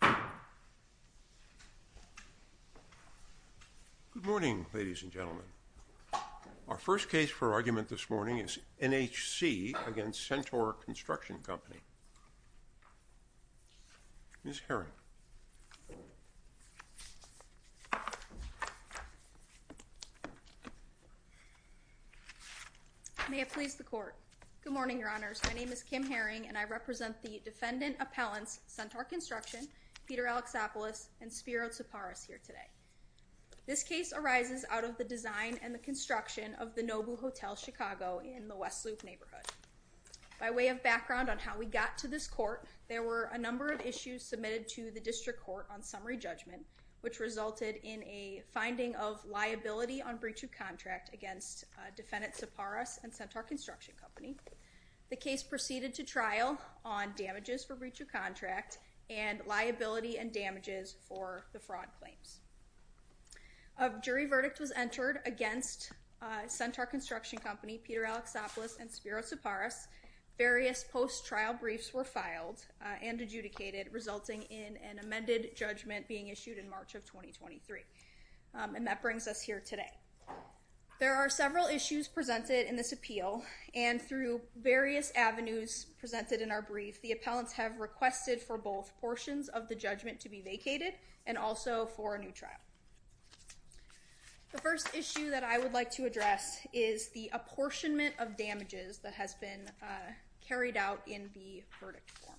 Good morning, ladies and gentlemen. Our first case for argument this morning is NHC v. Centaur Construction Company. Ms. Herring. May it please the court. Good morning, your honors. My name is Kim Herring and I represent the defendant appellants Centaur Construction, Peter Alexopoulos, and Spiro Tsipras here today. This case arises out of the design and the construction of the Nobu Hotel Chicago in the West Loop neighborhood. By way of background on how we got to this court, there were a number of issues submitted to the district court on summary judgment which resulted in a finding of liability on breach of contract against defendant Tsipras and Centaur Construction Company. The case proceeded to trial on damages for breach of contract and liability and damages for the fraud claims. A jury verdict was entered against Centaur Construction Company, Peter Alexopoulos, and Spiro Tsipras. Various post trial briefs were filed and adjudicated resulting in an amended judgment being issued in March of 2023. And that brings us here today. There are several issues presented in this appeal and through various avenues presented in our brief the appellants have requested for both portions of the judgment to be vacated and also for a new trial. The first issue that I would like to address is the apportionment of damages that has been carried out in the verdict form.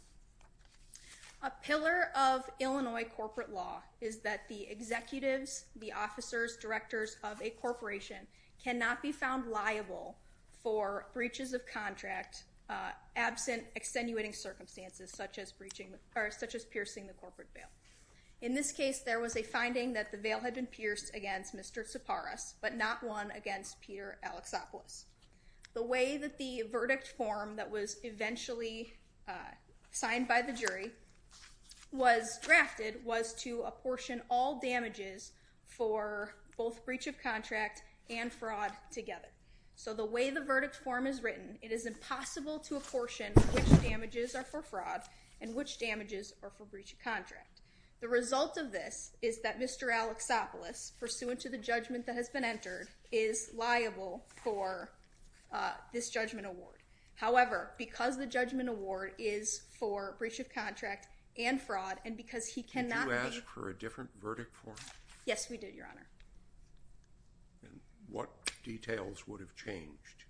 A pillar of Illinois corporate law is that the executives, the officers, directors of a firm are liable for breaches of contract absent extenuating circumstances such as breaching or such as piercing the corporate bail. In this case there was a finding that the bail had been pierced against Mr. Tsipras but not one against Peter Alexopoulos. The way that the verdict form that was eventually signed by the jury was drafted was to apportion all damages for both breach of contract and fraud together. So the way the verdict form is written it is impossible to apportion which damages are for fraud and which damages are for breach of contract. The result of this is that Mr. Alexopoulos pursuant to the judgment that has been entered is liable for this judgment award. However because the judgment award is for breach of contract and fraud and because he cannot be... Did you ask for a details would have changed?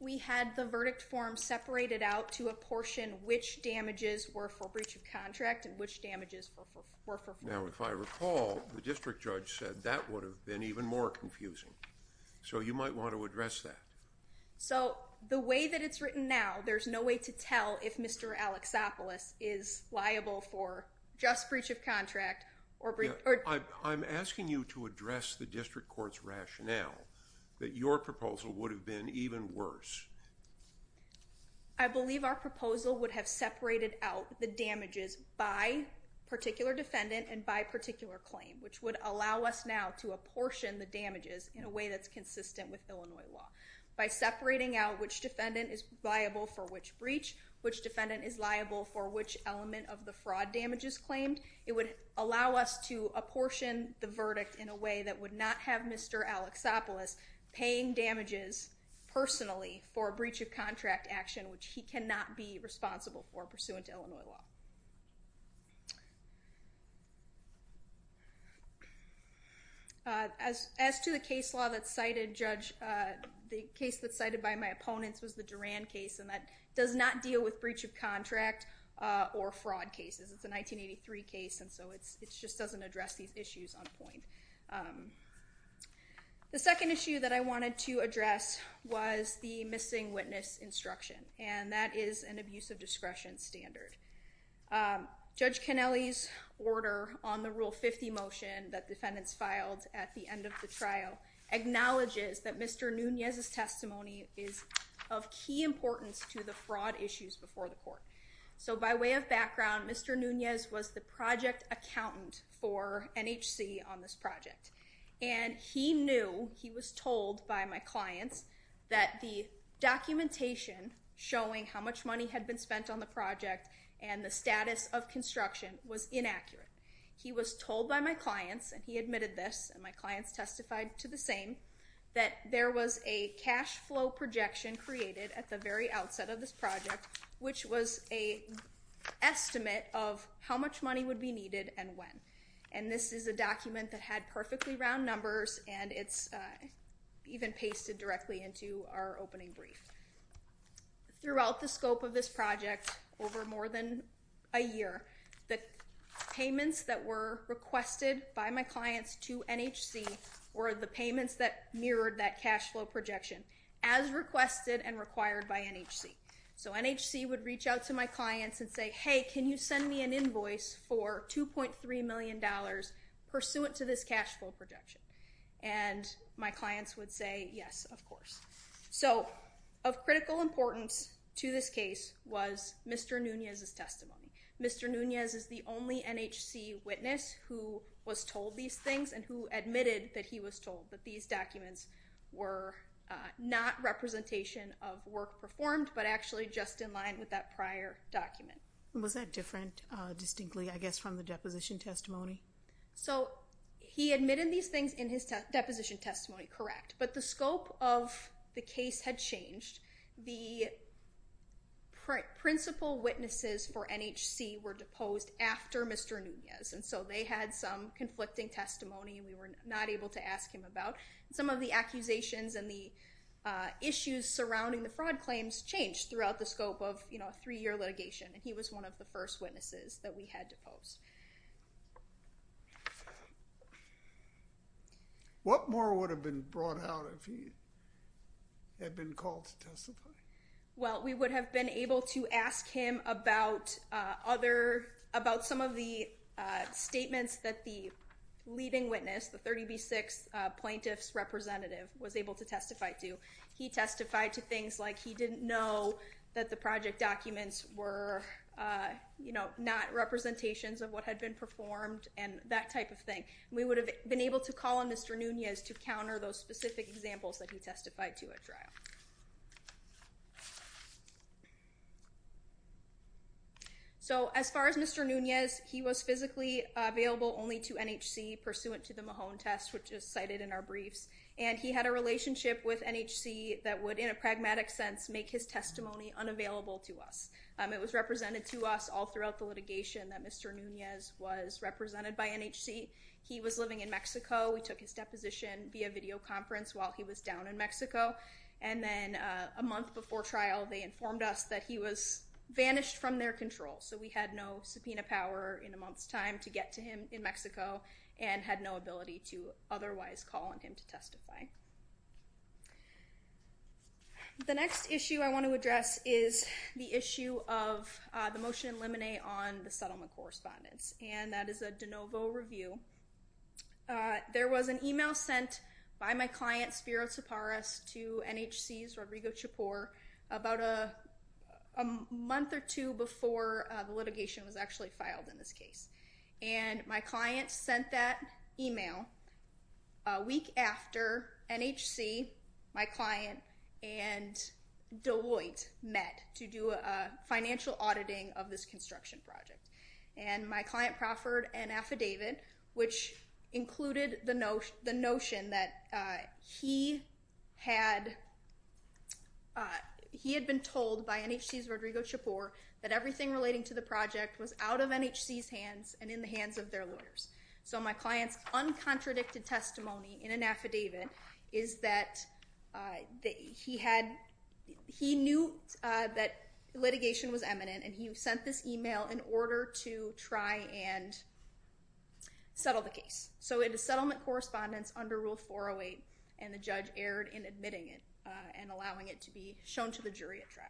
We had the verdict form separated out to apportion which damages were for breach of contract and which damages were for fraud. Now if I recall the district judge said that would have been even more confusing so you might want to address that. So the way that it's written now there's no way to tell if Mr. Alexopoulos is liable for just breach of contract or... I'm asking you to address the district courts rationale that your proposal would have been even worse. I believe our proposal would have separated out the damages by particular defendant and by particular claim which would allow us now to apportion the damages in a way that's consistent with Illinois law. By separating out which defendant is liable for which breach, which defendant is liable for which element of the fraud damages claimed, it would allow us to apportion the verdict in a way that would not have Mr. Alexopoulos paying damages personally for a breach of contract action which he cannot be responsible for pursuant to Illinois law. As to the case law that cited judge, the case that cited by my opponents was the Duran case and that does not deal with breach of contract or fraud cases. It's a 1983 case and so it just doesn't address these issues on point. The second issue that I wanted to address was the missing witness instruction and that is an abuse of discretion standard. Judge Kennelly's order on the rule 50 motion that defendants filed at the end of the trial acknowledges that Mr. Nunez's testimony is of key importance to the fraud issues before the court. So by way of background, Mr. Nunez was the project accountant for NHC on this project and he knew, he was told by my clients, that the documentation showing how much money had been spent on the project and the status of construction was inaccurate. He was told by my clients, and he admitted this, and my clients testified to the same, that there was a cash flow projection created at the very outset of this project which was a estimate of how much money would be needed and when. And this is a document that had perfectly round numbers and it's even pasted directly into our opening brief. Throughout the scope of this project, over more than a year, the payments that were requested by my clients to NHC were the payments that mirrored that cash flow projection as requested and so NHC would reach out to my clients and say, hey can you send me an invoice for 2.3 million dollars pursuant to this cash flow projection? And my clients would say yes of course. So of critical importance to this case was Mr. Nunez's testimony. Mr. Nunez is the only NHC witness who was told these things and who admitted that he was told that these documents were not representation of work performed, but actually just in line with that prior document. Was that different distinctly, I guess, from the deposition testimony? So he admitted these things in his deposition testimony, correct, but the scope of the case had changed. The principal witnesses for NHC were deposed after Mr. Nunez and so they had some conflicting testimony we were not able to ask him about. Some of the accusations and the issues surrounding the fraud claims changed throughout the scope of, you know, a three-year litigation and he was one of the first witnesses that we had deposed. What more would have been brought out if he had been called to testify? Well we would have been able to ask him about other, about some of the statements that the leading witness, the 30b6 plaintiff's representative, was able to testify to. He testified to things like he didn't know that the project documents were, you know, not representations of what had been performed and that type of thing. We would have been able to call on Mr. Nunez to counter those specific examples that he testified to at trial. So as far as Mr. Nunez, he was physically available only to NHC pursuant to the Mahone test which is cited in our briefs and he had a relationship with NHC that would in a pragmatic sense make his testimony unavailable to us. It was represented to us all throughout the litigation that Mr. Nunez was represented by NHC. He was living in Mexico. We took his deposition via videoconference while he was down in Mexico and then a month before trial they informed us that he was vanished from their control. So we had no subpoena power in a month's time to get to him in Mexico and had no ability to otherwise call on him to testify. The next issue I want to address is the issue of the motion in limine on the settlement correspondence and that is a de novo review. There was an email sent by my client Spiro Tsipras to NHC's Rodrigo Chapur about a month or two before litigation was actually filed in this case and my client sent that email a week after NHC, my client, and Deloitte met to do a financial auditing of this construction project and my client proffered an affidavit which included the notion that he had been told by NHC's Rodrigo Chapur that everything relating to the project was out of NHC's hands and in the hands of their lawyers. So my client's uncontradicted testimony in an affidavit is that he had, he knew that litigation was eminent and he sent this email in order to try and settle the case. So it is settlement correspondence under Rule 408 and the judge erred in admitting it and allowing it to be shown to the jury at trial.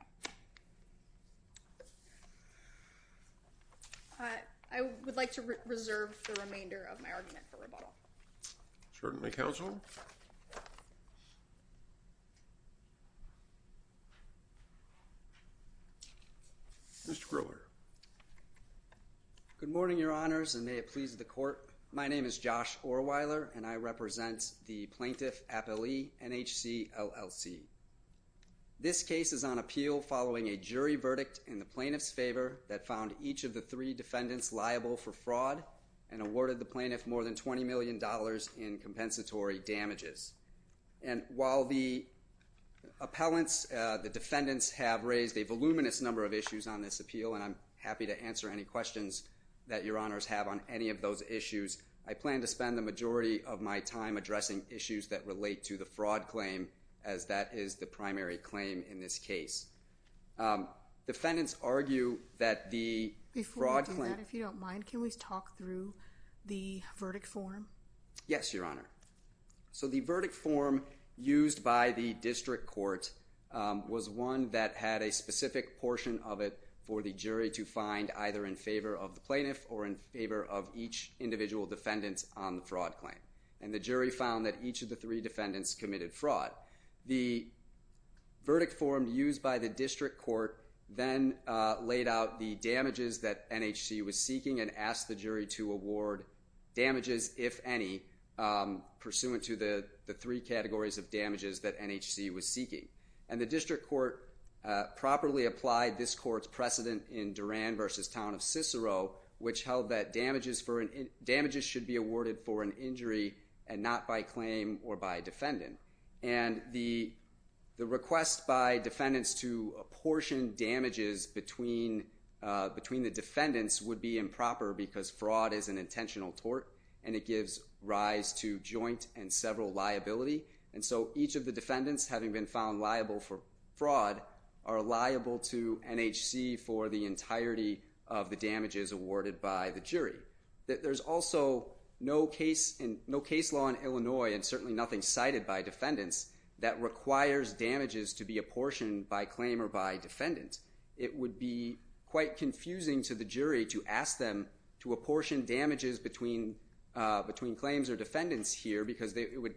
I would like to reserve the remainder of my argument for rebuttal. Sergeant McHousel, Mr. Grower. Good morning your honors and may it please the court. My name is Josh Orweiler and I represent the plaintiff appellee NHC LLC. This case is on appeal following a jury verdict in the plaintiff's favor that found each of the three defendants liable for fraud and awarded the others in compensatory damages. And while the appellants, the defendants, have raised a voluminous number of issues on this appeal and I'm happy to answer any questions that your honors have on any of those issues, I plan to spend the majority of my time addressing issues that relate to the fraud claim as that is the primary claim in this case. Defendants argue that the fraud claim... Yes, your honor. So the verdict form used by the district court was one that had a specific portion of it for the jury to find either in favor of the plaintiff or in favor of each individual defendant on the fraud claim. And the jury found that each of the three defendants committed fraud. The verdict form used by the district court then laid out the damages that NHC was seeking and asked the jury to award damages, if any, pursuant to the three categories of damages that NHC was seeking. And the district court properly applied this court's precedent in Duran v. Town of Cicero, which held that damages should be awarded for an injury and not by claim or by defendant. And the request by defendants to apportion damages between the defendants would be that fraud is an intentional tort and it gives rise to joint and several liability. And so each of the defendants, having been found liable for fraud, are liable to NHC for the entirety of the damages awarded by the jury. There's also no case law in Illinois, and certainly nothing cited by defendants, that requires damages to be apportioned by claim or by defendant. It would be quite confusing to the jury to ask them to apportion damages between claims or defendants here because it would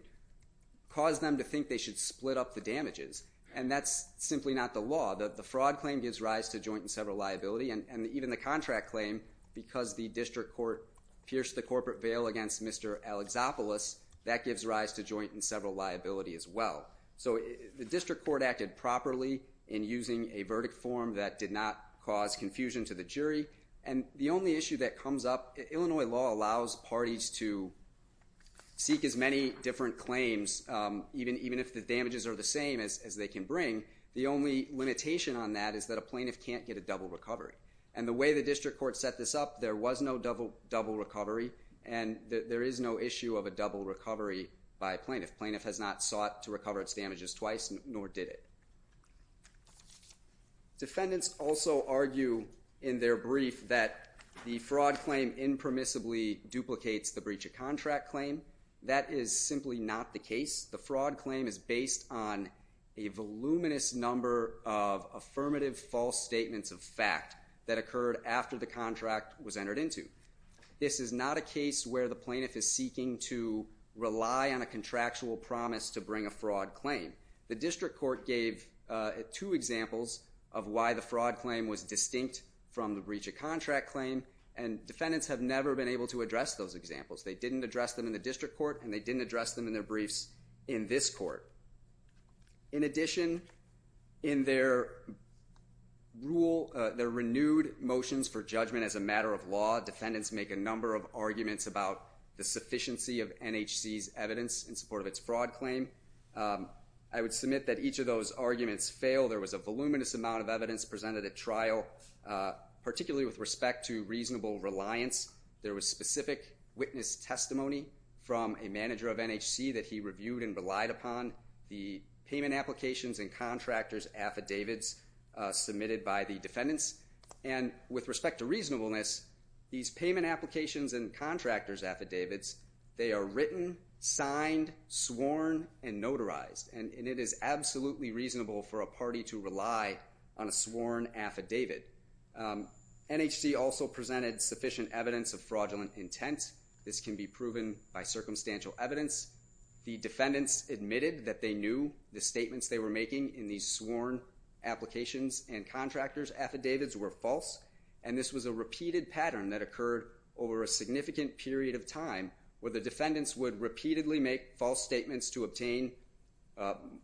cause them to think they should split up the damages. And that's simply not the law. The fraud claim gives rise to joint and several liability, and even the contract claim, because the district court pierced the corporate veil against Mr. Alexopoulos, that gives rise to joint and several liability as well. So the district court acted properly in using a verdict form that did not cause confusion to the jury. And the only issue that comes up, Illinois law allows parties to seek as many different claims, even if the damages are the same as they can bring. The only limitation on that is that a plaintiff can't get a double recovery. And the way the district court set this up, there was no double recovery, and there is no issue of a double recovery by plaintiff. Plaintiff has not sought to recover its damages twice, nor did it. Defendants also argue in their brief that the fraud claim impermissibly duplicates the breach of contract claim. That is simply not the case. The fraud claim is based on a voluminous number of affirmative false statements of fact that occurred after the contract was entered into. This is not a case where the plaintiff is seeking to rely on a contractual promise to bring a fraud claim. The district court gave two examples of why the fraud claim was distinct from the breach of contract claim, and defendants have never been able to address those examples. They didn't address them in the district court, and they didn't address them in their briefs in this court. In addition, in their rule, their renewed motions for judgment as a matter of law, defendants make a number of arguments about the sufficiency of NHC's evidence in support of its fraud claim. I would submit that each of those arguments fail. There was a voluminous amount of evidence presented at trial, particularly with respect to reasonable reliance. There was specific witness testimony from a manager of NHC that he reviewed and relied upon, the payment applications and contractors affidavits submitted by the defendants, and with respect to reasonableness, these payment applications and contractors affidavits, they are written, signed, sworn, and notarized, and it is absolutely reasonable for a party to rely on a sworn affidavit. NHC also presented sufficient evidence of fraudulent intent. This can be proven by circumstantial evidence. The defendants admitted that they knew the statements they were making in these sworn applications and contractors affidavits were false, and this was a repeated pattern that occurred over a significant period of time, where the defendants would repeatedly make false statements to obtain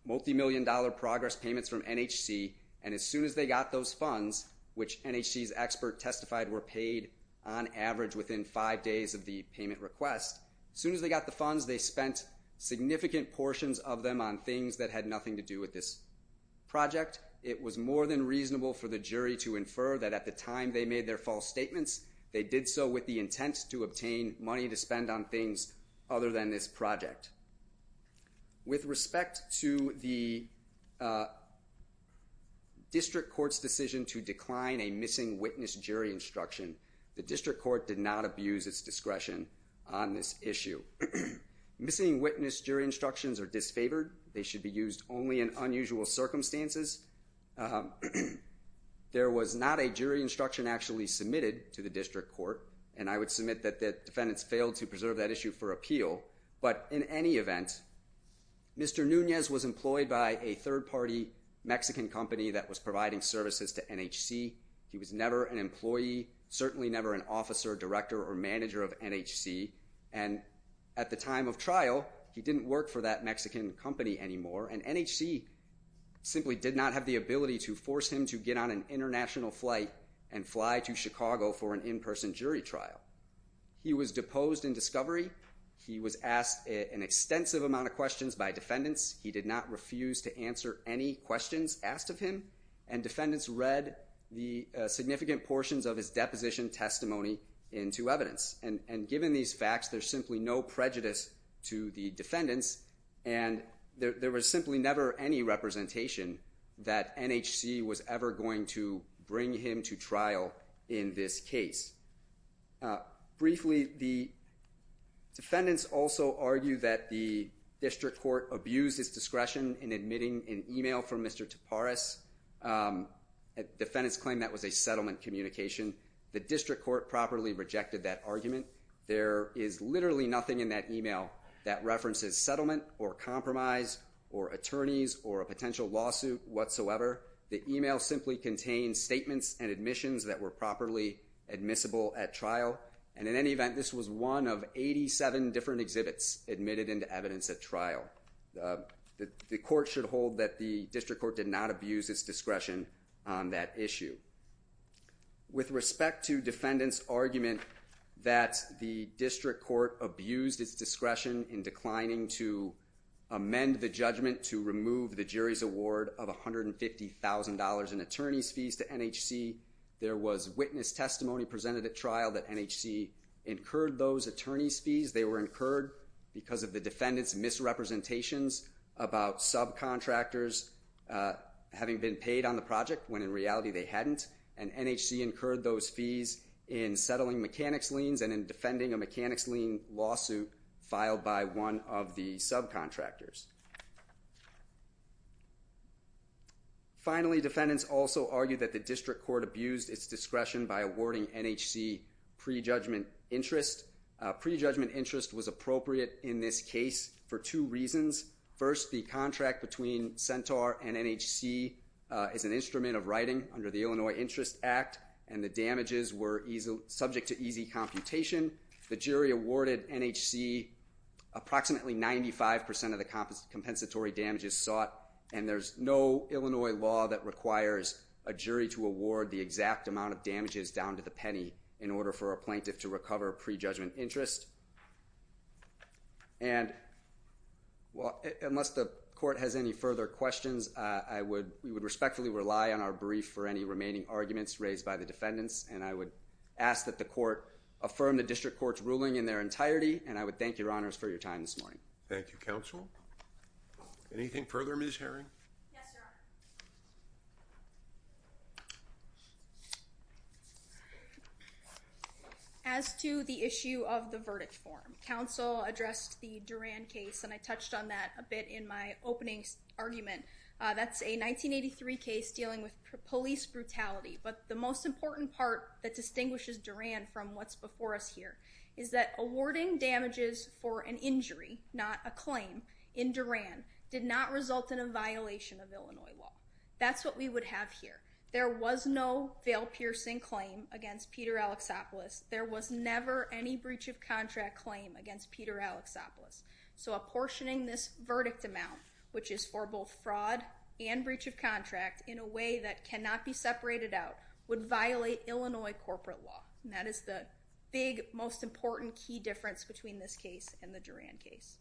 multimillion-dollar progress payments from NHC, and as soon as they got those funds, which NHC's expert testified were paid on average within five days of the payment request, as soon as they got the funds, they spent significant portions of them on things that had nothing to do with this project. It was more than reasonable for the jury to infer that at the time they made their false statements, they did so with the intent to obtain money to fund things other than this project. With respect to the district court's decision to decline a missing witness jury instruction, the district court did not abuse its discretion on this issue. Missing witness jury instructions are disfavored. They should be used only in unusual circumstances. There was not a jury instruction actually submitted to the district court, and I would submit that the defendants failed to preserve that issue for appeal, but in any event, Mr. Nunez was employed by a third-party Mexican company that was providing services to NHC. He was never an employee, certainly never an officer, director, or manager of NHC, and at the time of trial, he didn't work for that Mexican company anymore, and NHC simply did not have the ability to force him to get on an international flight and fly to Chicago for an in-person jury trial. He was deposed in discovery. He was asked an extensive amount of questions by defendants. He did not refuse to answer any questions asked of him, and defendants read the significant portions of his deposition testimony into evidence, and given these facts, there's simply no prejudice to the defendants, and there was simply never any representation that NHC was ever going to bring him to trial in this case. Briefly, the defendants also argue that the district court abused his discretion in admitting an email from Mr. Tapares. Defendants claim that was a settlement communication. The district court properly rejected that argument. There is literally nothing in that email that references settlement or compromise or attorneys or a potential lawsuit whatsoever. The email simply contains statements and admissions that were properly admissible at trial, and in any event, this was one of 87 different exhibits admitted into evidence at trial. The court should hold that the district court did not abuse its discretion on that issue. With respect to defendants' argument that the district court abused its discretion in declining to amend the $150,000 in attorneys' fees to NHC, there was witness testimony presented at trial that NHC incurred those attorneys' fees. They were incurred because of the defendants' misrepresentations about subcontractors having been paid on the project, when in reality they hadn't, and NHC incurred those fees in settling mechanics liens and in defending a mechanics lien lawsuit filed by one of the subcontractors. Finally, defendants also argued that the district court abused its discretion by awarding NHC prejudgment interest. Prejudgment interest was appropriate in this case for two reasons. First, the contract between Centaur and NHC is an instrument of writing under the Illinois Interest Act, and the damages were subject to easy computation. The jury awarded NHC approximately 95% of the compensatory damages sought, and there's no Illinois law that requires a jury to award the exact amount of damages down to the penny in order for a plaintiff to recover prejudgment interest. And, well, unless the court has any further questions, we would respectfully rely on our brief for any remaining arguments raised by the defendants, and I would ask that the court affirm the district court's ruling in their entire and I would thank your honors for your time this morning. Thank you, counsel. Anything further, Ms. Herring? As to the issue of the verdict form, counsel addressed the Duran case, and I touched on that a bit in my opening argument. That's a 1983 case dealing with police brutality, but the most important part that distinguishes Duran from what's in Duran is that the same damages for an injury, not a claim, in Duran did not result in a violation of Illinois law. That's what we would have here. There was no veil-piercing claim against Peter Alexopoulos. There was never any breach of contract claim against Peter Alexopoulos. So apportioning this verdict amount, which is for both fraud and breach of contract, in a way that cannot be separated out, would violate Illinois corporate law. And that is the big, most important key difference between this case and the Duran case.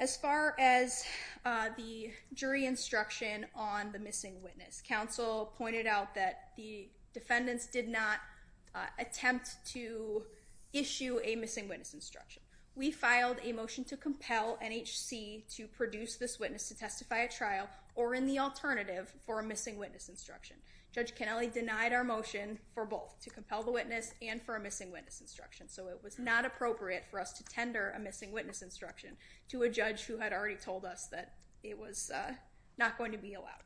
As far as the jury instruction on the missing witness, counsel pointed out that the defendants did not attempt to issue a missing witness instruction. We filed a motion to compel NHC to produce this witness to testify at trial or in the alternative for a missing witness instruction. Judge Kennelly denied our request for a missing witness instruction. So it was not appropriate for us to tender a missing witness instruction to a judge who had already told us that it was not going to be allowed.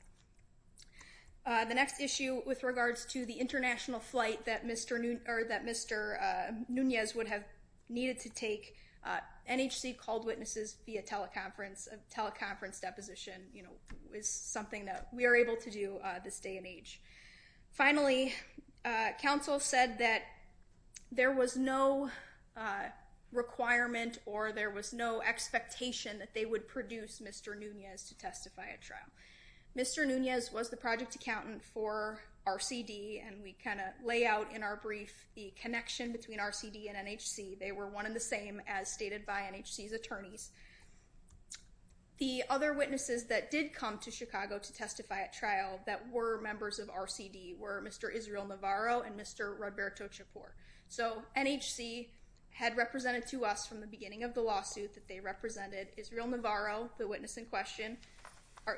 The next issue with regards to the international flight that Mr. Nunez would have needed to take, NHC called witnesses via teleconference. A teleconference deposition, you know, is something that we are able to do this day and age. Finally, counsel said that there was no requirement or there was no expectation that they would produce Mr. Nunez to testify at trial. Mr. Nunez was the project accountant for RCD and we kind of lay out in our brief the connection between RCD and NHC. They were one in the same as stated by NHC's attorneys. The other witnesses that did come to Chicago to testify at trial that were members of RCD were Mr. Israel Navarro and Mr. Roberto Chapur. So NHC had represented to us from the beginning of the lawsuit that they represented Israel Navarro, the witness in question,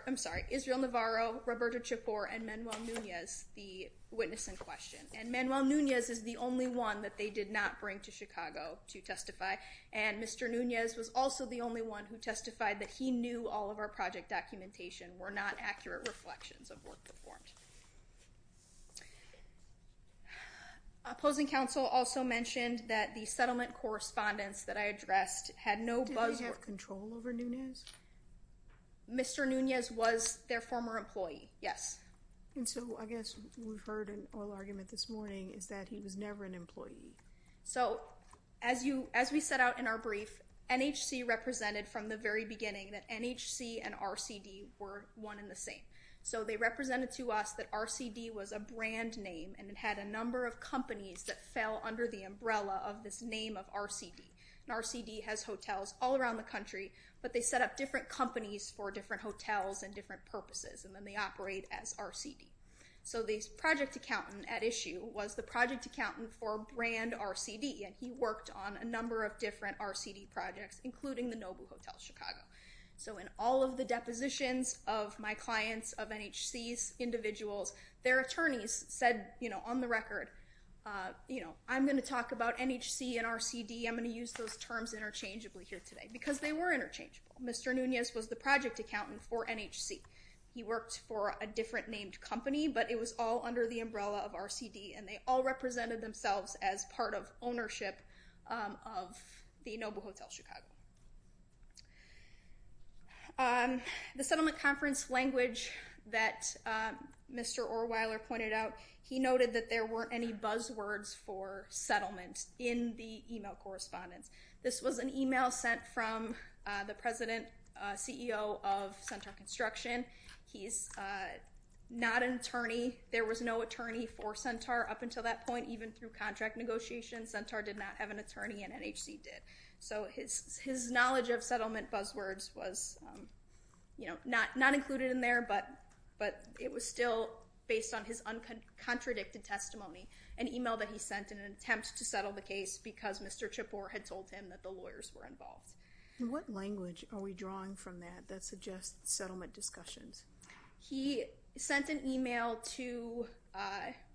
I'm sorry, Israel Navarro, Roberto Chapur, and Manuel Nunez, the witness in question. And Manuel Nunez is the only one that they did not bring to Chicago to testify and Mr. Nunez was also the only one who testified that he knew all of our project documentation were not accurate reflections of work performed. Opposing counsel also mentioned that the settlement correspondence that I addressed had no buzz. Did they have control over Nunez? Mr. Nunez was their former employee, yes. And so I guess we've heard an oral argument this morning is that he was never an employee. So as we set out in our brief, NHC represented from the very beginning that NHC and RCD were one in the same. So they represented to us that RCD was a brand name and it had a number of companies that fell under the umbrella of this name of RCD. And RCD has hotels all around the country, but they set up different companies for different hotels and different purposes and then they operate as RCD. So the project accountant at issue was the project accountant for brand RCD and he worked on a number of different RCD projects including the Nobu Hotel Chicago. So in all of the depositions of my clients of NHC's individuals, their attorneys said, you know, on the record, you know, I'm going to talk about NHC and RCD. I'm going to use those terms interchangeably here today because they were interchangeable. Mr. Nunez was the project accountant for NHC. He worked for a different named company, but it was all under the umbrella of RCD and they all represented themselves as part of ownership of the Nobu Hotel Chicago. The settlement conference language that Mr. Orweiler pointed out, he noted that there weren't any buzzwords for settlement in the email correspondence. This was an email sent from the president CEO of Centaur Construction. He's not an attorney. There was no attorney for Centaur up until that point. Even through contract negotiations, Centaur did not have an attorney and NHC did. So his knowledge of settlement buzzwords was, you know, not included in there, but it was still based on his uncontradicted testimony. An email that he sent in an attempt to settle the case because Mr. Chippoor had told him that the lawyers were involved. What language are we drawing from that that suggests settlement discussions? He sent an email to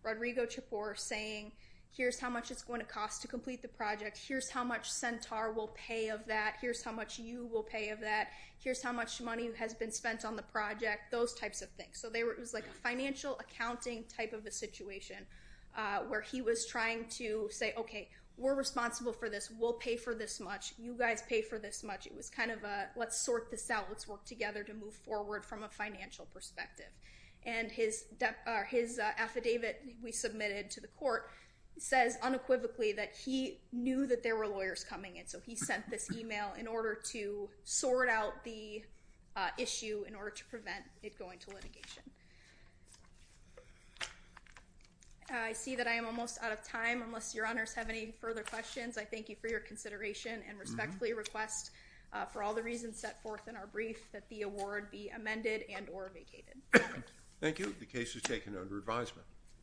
Rodrigo Chippoor saying, here's how much it's going to cost to complete the project. Here's how much Centaur will pay of that. Here's how much you will pay of that. Here's how much money has been spent on the project. Those types of things. So it was like a financial accounting type of a situation where he was trying to say, okay, we're responsible for this. We'll pay for this much. You guys pay for this much. It was kind of a let's sort this out. Let's work together to move forward from a financial perspective. And his affidavit we submitted to the court says unequivocally that he knew that there were lawyers coming in. So he sent this email in order to sort out the issue in order to prevent it going to litigation. I see that I am almost out of time unless your honors have any further questions. I thank you for your brief that the award be amended and or vacated. Thank you. The case is taken under advisement.